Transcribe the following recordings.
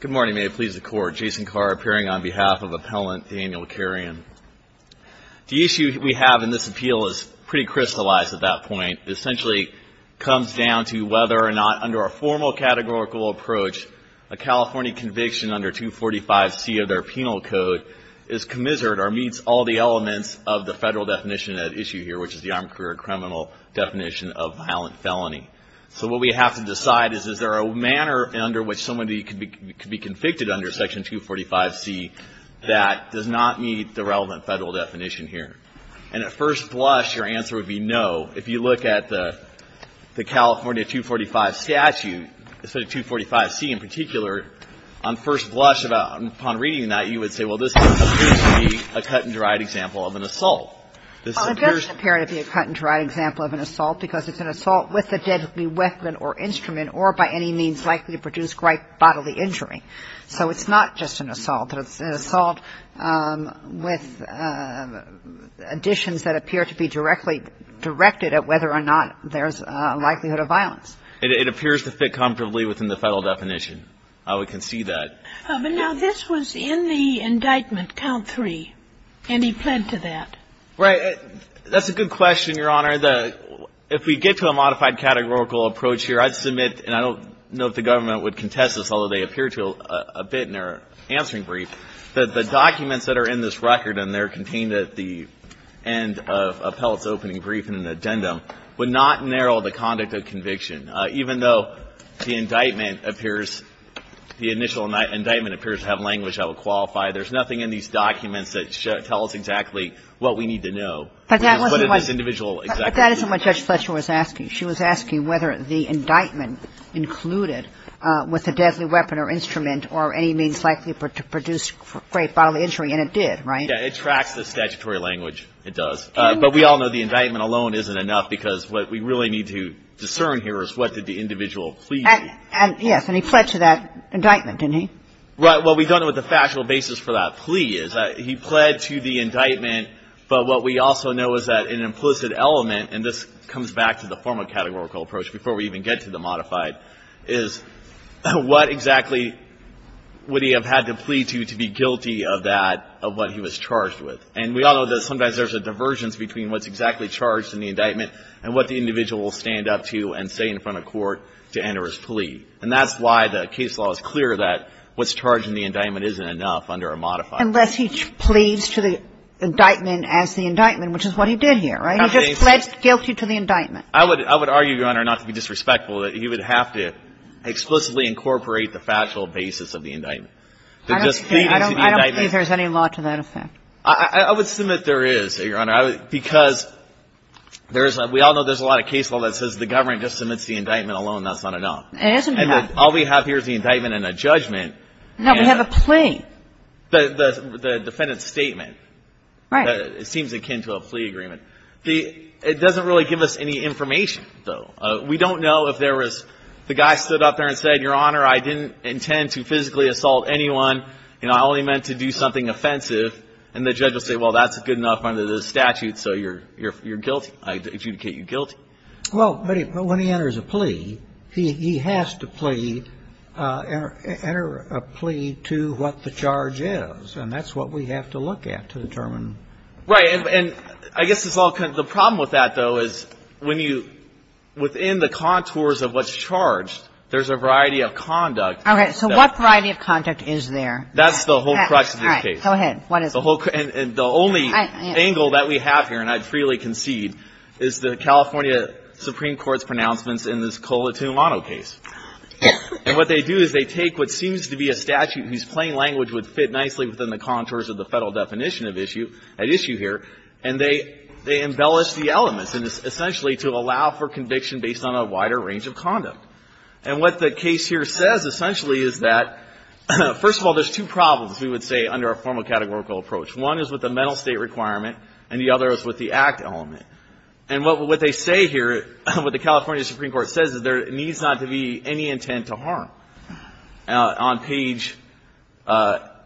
Good morning, may it please the court, Jason Carr appearing on behalf of the appellant Daniel Carrion. The issue we have in this appeal is pretty crystallized at that point. It essentially comes down to whether or not, under a formal categorical approach, a California conviction under 245 C of their penal code is commensurate or meets all the elements of the federal definition at issue here, which is the armed career criminal definition of violent felony. So what we have to decide is, is there a manner under which somebody could be convicted under Section 245 C that does not meet the relevant federal definition here? And at first blush, your answer would be no. If you look at the California 245 statute, the 245 C in particular, on first blush upon reading that, you would say, well, this appears to be a cut and dried example of an assault. Well, it doesn't appear to be a cut and dried example of an assault because it's an assault with a deadly weapon or instrument or by any means likely to produce grave bodily injury. So it's not just an assault, but it's an assault with additions that appear to be directly directed at whether or not there's a likelihood of violence. It appears to fit comfortably within the federal definition. I would concede that. But now, this was in the indictment, count three, and he pled to that. Right. That's a good question, Your Honor. If we get to a modified categorical approach here, I'd submit, and I don't know if the government would contest this, although they appear to a bit in their answering brief, that the documents that are in this record and they're contained at the end of appellate's opening brief and an addendum, would not narrow the conduct of conviction. Even though the indictment appears, the initial indictment appears to have language that would qualify, there's nothing in these documents that tell us exactly what we need to know. But that wasn't what the judge Fletcher was asking. She was asking whether the indictment included with a deadly weapon or instrument or any means likely to produce grave bodily injury, and it did, right? It tracks the statutory language, it does. But we all know the indictment alone isn't enough, because what we really need to discern here is what did the individual plead to. And, yes, and he pled to that indictment, didn't he? Well, we don't know what the factual basis for that plea is. He pled to the indictment, but what we also know is that an implicit element, and this comes back to the formal categorical approach before we even get to the modified, is what exactly would he have had to plead to to be guilty of that, of what he was charged with. And we all know that sometimes there's a divergence between what's exactly charged in the indictment and what the individual will stand up to and say in front of court to enter his plea. And that's why the case law is clear that what's charged in the indictment isn't enough under a modified. Unless he pleads to the indictment as the indictment, which is what he did here, right? He just pled guilty to the indictment. I would argue, Your Honor, not to be disrespectful, that he would have to explicitly incorporate the factual basis of the indictment. I don't believe there's any law to that effect. I would submit there is, Your Honor, because there's a – we all know there's a lot of case law that says the government just submits the indictment alone, that's not enough. And all we have here is the indictment and a judgment. No, we have a plea. The defendant's statement. Right. It seems akin to a plea agreement. The – it doesn't really give us any information, though. We don't know if there was – the guy stood up there and said, Your Honor, I didn't intend to physically assault anyone. You know, I only meant to do something offensive. And the judge will say, well, that's good enough under the statute, so you're guilty. I adjudicate you guilty. Well, but when he enters a plea, he has to plea – enter a plea to what the charge is, and that's what we have to look at to determine. Right. And I guess it's all kind of – the problem with that, though, is when you – within the contours of what's charged, there's a variety of conduct. Okay. So what variety of conduct is there? That's the whole crux of this case. All right. Go ahead. What is it? The whole – and the only angle that we have here, and I'd freely concede, is the California Supreme Court's pronouncements in this Colatumano case. And what they do is they take what seems to be a statute whose plain language would fit nicely within the contours of the Federal definition of issue – at issue here, and they embellish the elements, and it's essentially to allow for conviction based on a wider range of conduct. And what the case here says, essentially, is that, first of all, there's two problems, we would say, under a formal categorical approach. One is with the mental state requirement, and the other is with the act element. And what they say here, what the California Supreme Court says is there needs not to be any intent to harm. On page – But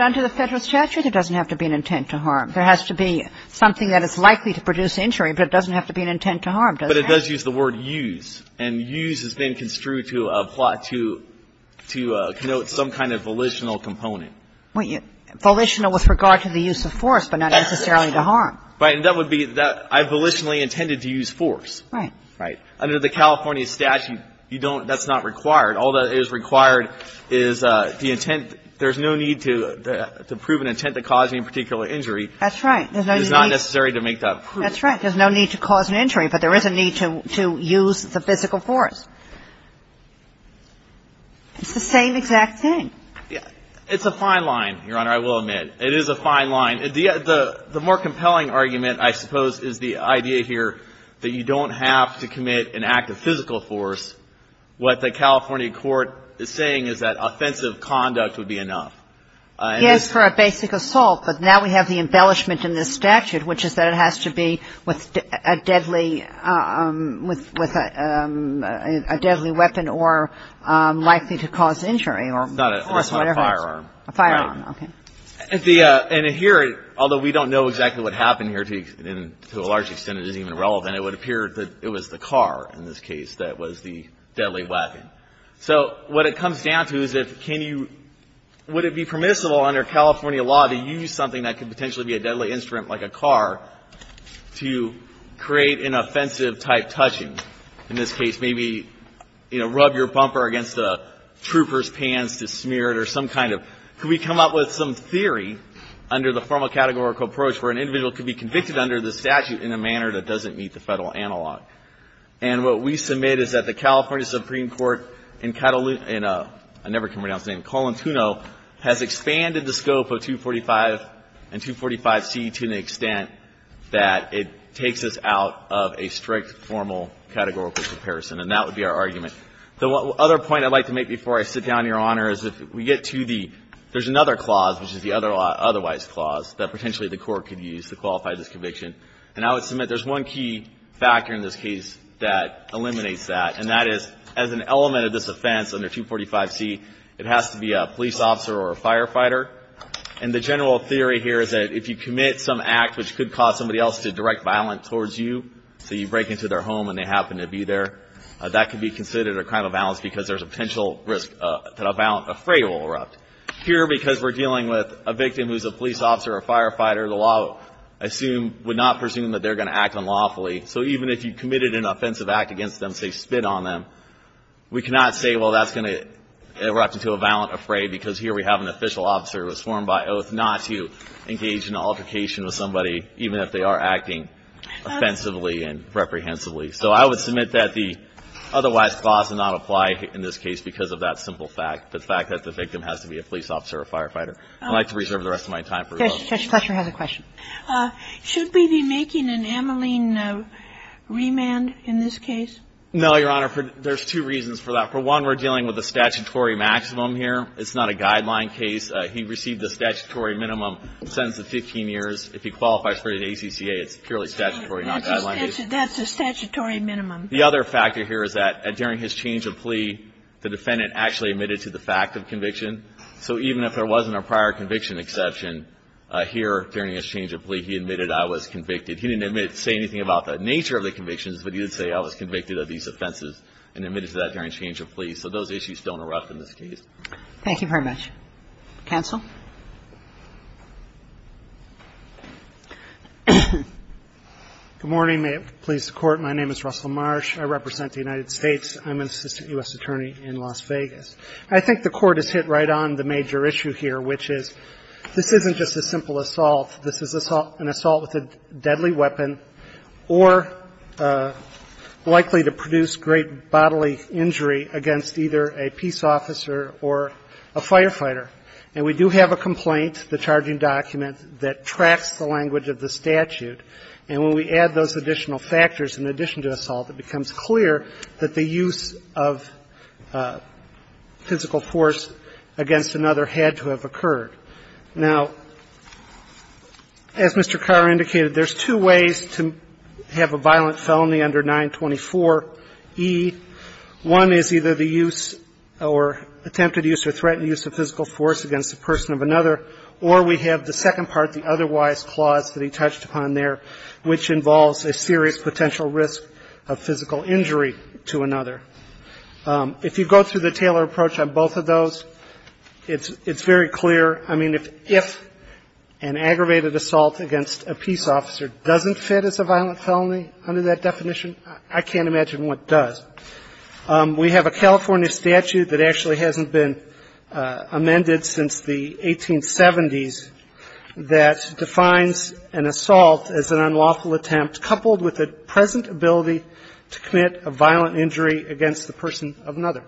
under the Federal statute, it doesn't have to be an intent to harm. There has to be something that is likely to produce injury, but it doesn't have to be an intent to harm, does it? But it does use the word use, and use has been construed to apply to – to connote some kind of volitional component. Volitional with regard to the use of force, but not necessarily to harm. Right. And that would be that I volitionally intended to use force. Right. Right. Under the California statute, you don't – that's not required. All that is required is the intent – there's no need to prove an intent to cause me a particular injury. That's right. There's no need – It's not necessary to make that proof. That's right. There's no need to cause an injury, but there is a need to use the physical force. It's the same exact thing. It's a fine line, Your Honor, I will admit. It is a fine line. The more compelling argument, I suppose, is the idea here that you don't have to commit an act of physical force. What the California court is saying is that offensive conduct would be enough. Yes, for a basic assault, but now we have the embellishment in this statute, which is that it has to be with a deadly – with a deadly weapon or likely to cause injury or force whatever. It's not a firearm. A firearm, okay. And here, although we don't know exactly what happened here to a large extent, it isn't even relevant, it would appear that it was the car in this case that was the deadly weapon. So what it comes down to is if can you – would it be permissible under California law to use something that could potentially be a deadly instrument like a car to create an offensive-type touching, in this case, maybe, you know, rub your bumper against a trooper's pants to smear it or some kind of – could we come up with some theory under the formal categorical approach where an individual could be convicted under this statute in a manner that doesn't meet the Federal analog? And what we submit is that the California Supreme Court in – I never can pronounce the name – Colantuno has expanded the scope of 245 and 245C to an extent that it takes us out of a strict formal categorical comparison, and that would be our argument. The other point I'd like to make before I sit down, Your Honor, is if we get to the – there's another clause, which is the otherwise clause, that potentially the Court could use to qualify this conviction. And I would submit there's one key factor in this case that eliminates that, and that is, as an element of this offense under 245C, it has to be a police officer or a firefighter. And the general theory here is that if you commit some act which could cause somebody else to direct violence towards you – so you break into their home and they happen to be there – that could be considered a crime of violence because there's a potential risk that a freight will erupt. Here because we're dealing with a victim who's a police officer or firefighter, the law, I assume, would not presume that they're going to act unlawfully. So even if you committed an offensive act against them, say, spit on them, we cannot say, well, that's going to erupt into a violent affray because here we have an official officer who was sworn by oath not to engage in an altercation with somebody even if they are acting offensively and reprehensibly. So I would submit that the otherwise clause would not apply in this case because of that simple fact, the fact that the victim has to be a police officer or firefighter. I'd like to reserve the rest of my time for those. Judge Fletcher has a question. Should we be making an Ameline remand in this case? No, Your Honor. There's two reasons for that. For one, we're dealing with a statutory maximum here. It's not a guideline case. He received a statutory minimum sentence of 15 years. If he qualifies for the ACCA, it's purely statutory, not a guideline case. That's a statutory minimum. The other factor here is that during his change of plea, the defendant actually admitted to the fact of conviction. So even if there wasn't a prior conviction exception, here during his change of plea, he admitted I was convicted. He didn't say anything about the nature of the convictions, but he did say I was convicted of these offenses and admitted to that during change of plea. So those issues don't erupt in this case. Thank you very much. Counsel? Good morning. May it please the Court. My name is Russell Marsh. I represent the United States. I'm an assistant U.S. attorney in Las Vegas. I think the Court has hit right on the major issue here, which is this isn't just a simple assault. This is an assault with a deadly weapon or likely to produce great bodily injury against either a peace officer or a firefighter. And we do have a complaint, the charging document, that tracks the language of the statute. And when we add those additional factors in addition to assault, it becomes clear that the use of physical force against another had to have occurred. Now, as Mr. Carr indicated, there's two ways to have a violent felony under 924e. One is either the use or attempted use or threatened use of physical force against a person of another, or we have the second part, the otherwise clause that he touched upon there, which involves a serious potential risk of physical injury to another. If you go through the Taylor approach on both of those, it's very clear. I mean, if an aggravated assault against a peace officer doesn't fit as a violent felony under that definition, I can't imagine what does. We have a California statute that actually hasn't been amended since the 1870s that defines an assault as an unlawful attempt coupled with the present ability to commit a violent injury against the person of another.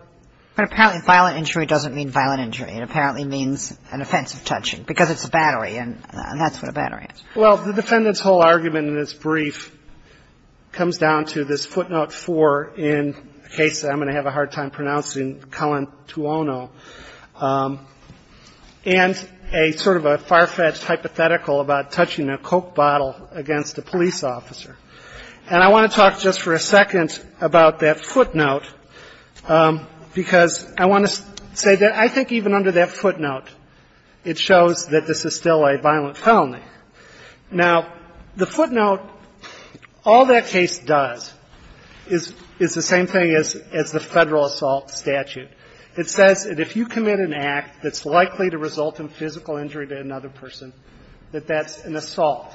But apparently violent injury doesn't mean violent injury. It apparently means an offensive touching, because it's a battery, and that's what a battery is. Well, the Defendant's whole argument in this brief comes down to this footnote 4 in a case that I'm going to have a hard time pronouncing, Calentuono, and a sort of a far-fetched hypothetical about touching a Coke bottle against a police officer. And I want to talk just for a second about that footnote, because I want to say that I think even under that footnote, it shows that this is still a violent felony. Now, the footnote, all that case does is the same thing as the Federal assault statute. It says that if you commit an act that's likely to result in physical injury to another person, that that's an assault.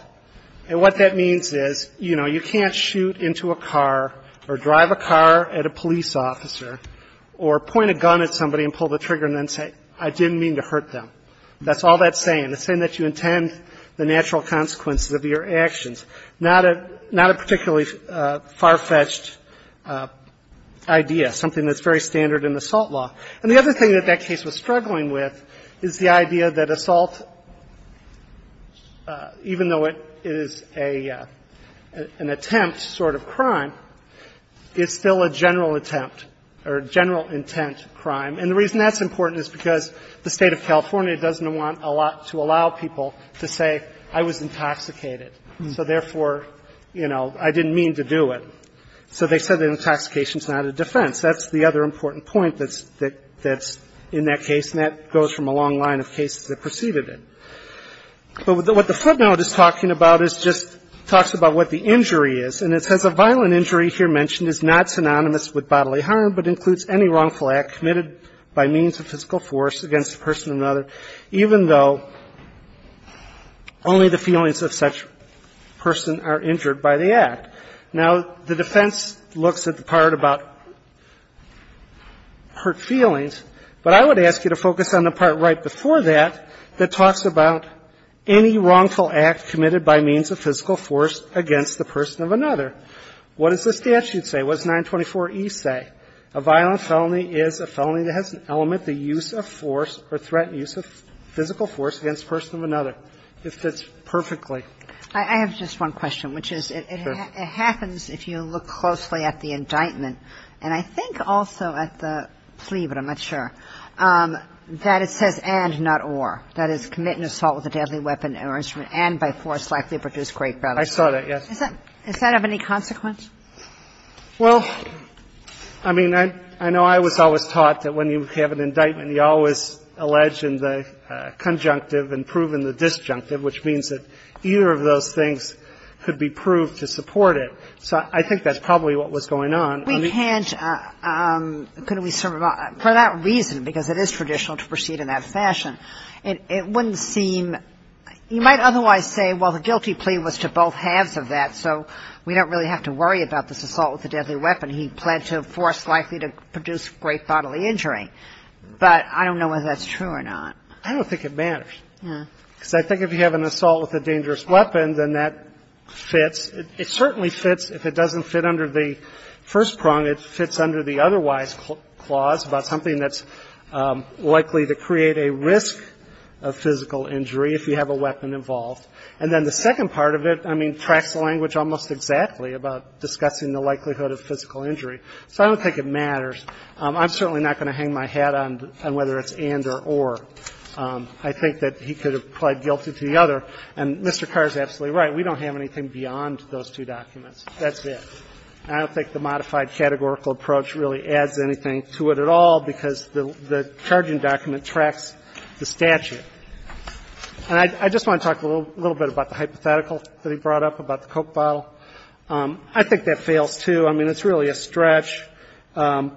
And what that means is, you know, you can't shoot into a car or drive a car at a police officer or point a gun at somebody and pull the trigger and then say, I didn't mean to hurt them. That's all that's saying. It's saying that you intend the natural consequences of your actions. And that's not a particularly far-fetched idea, something that's very standard in the assault law. And the other thing that that case was struggling with is the idea that assault, even though it is an attempt sort of crime, is still a general attempt or a general intent crime. And the reason that's important is because the State of California doesn't want a lot to allow people to say, I was intoxicated. So therefore, you know, I didn't mean to do it. So they said that intoxication is not a defense. That's the other important point that's in that case, and that goes from a long line of cases that preceded it. But what the footnote is talking about is just talks about what the injury is. And it says, A violent injury here mentioned is not synonymous with bodily harm, but includes even though only the feelings of such a person are injured by the act. Now, the defense looks at the part about hurt feelings, but I would ask you to focus on the part right before that that talks about any wrongful act committed by means of physical force against the person of another. What does the statute say? What does 924E say? A violent felony is a felony that has an element, the use of force or threat, use of physical force against the person of another. It fits perfectly. I have just one question, which is it happens, if you look closely at the indictment, and I think also at the plea, but I'm not sure, that it says and, not or, that is, commit an assault with a deadly weapon or instrument and by force likely produce great bodily harm. I saw that, yes. Is that of any consequence? Well, I mean, I know I was always taught that when you have an indictment, you always allege in the conjunctive and prove in the disjunctive, which means that either of those things could be proved to support it. So I think that's probably what was going on. We can't, couldn't we sort of, for that reason, because it is traditional to proceed in that fashion, it wouldn't seem you might otherwise say, well, the guilty about this assault with a deadly weapon, he pled to a force likely to produce great bodily injury, but I don't know whether that's true or not. I don't think it matters, because I think if you have an assault with a dangerous weapon, then that fits. It certainly fits, if it doesn't fit under the first prong, it fits under the otherwise clause about something that's likely to create a risk of physical injury if you have a weapon involved. And then the second part of it, I mean, tracks the language almost exactly about discussing the likelihood of physical injury. So I don't think it matters. I'm certainly not going to hang my hat on whether it's and or or. I think that he could have pled guilty to the other. And Mr. Carr is absolutely right. We don't have anything beyond those two documents. That's it. I don't think the modified categorical approach really adds anything to it at all, because the charging document tracks the statute. And I just want to talk a little bit about the hypothetical that he brought up about the Coke bottle. I think that fails, too. I mean, it's really a stretch. I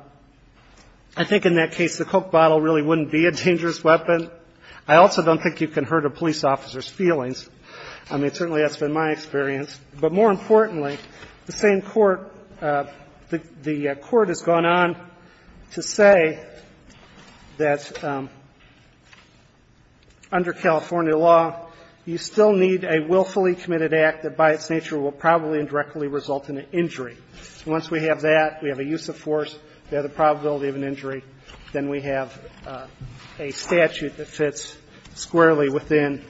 think in that case, the Coke bottle really wouldn't be a dangerous weapon. I also don't think you can hurt a police officer's feelings. I mean, certainly that's been my experience. But more importantly, the same court, the court has gone on to say that, you know, under California law, you still need a willfully committed act that by its nature will probably and directly result in an injury. Once we have that, we have a use of force, we have the probability of an injury, then we have a statute that fits squarely within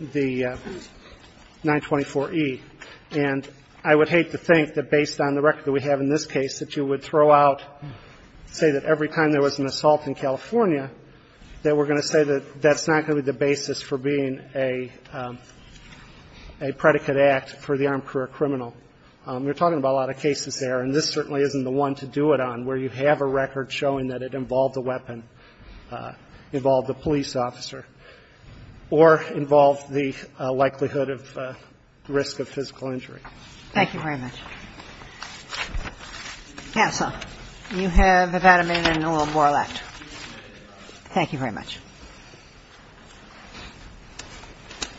the 924E. And I would hate to think that based on the record that we have in this case, that you would throw out, say that every time there was an assault in California, that we're going to say that that's not going to be the basis for being a predicate act for the armed career criminal. We're talking about a lot of cases there, and this certainly isn't the one to do it on where you have a record showing that it involved a weapon, involved a police officer, or involved the likelihood of risk of physical injury. Thank you very much. Yes, sir. You have about a minute and a little more left. Thank you very much.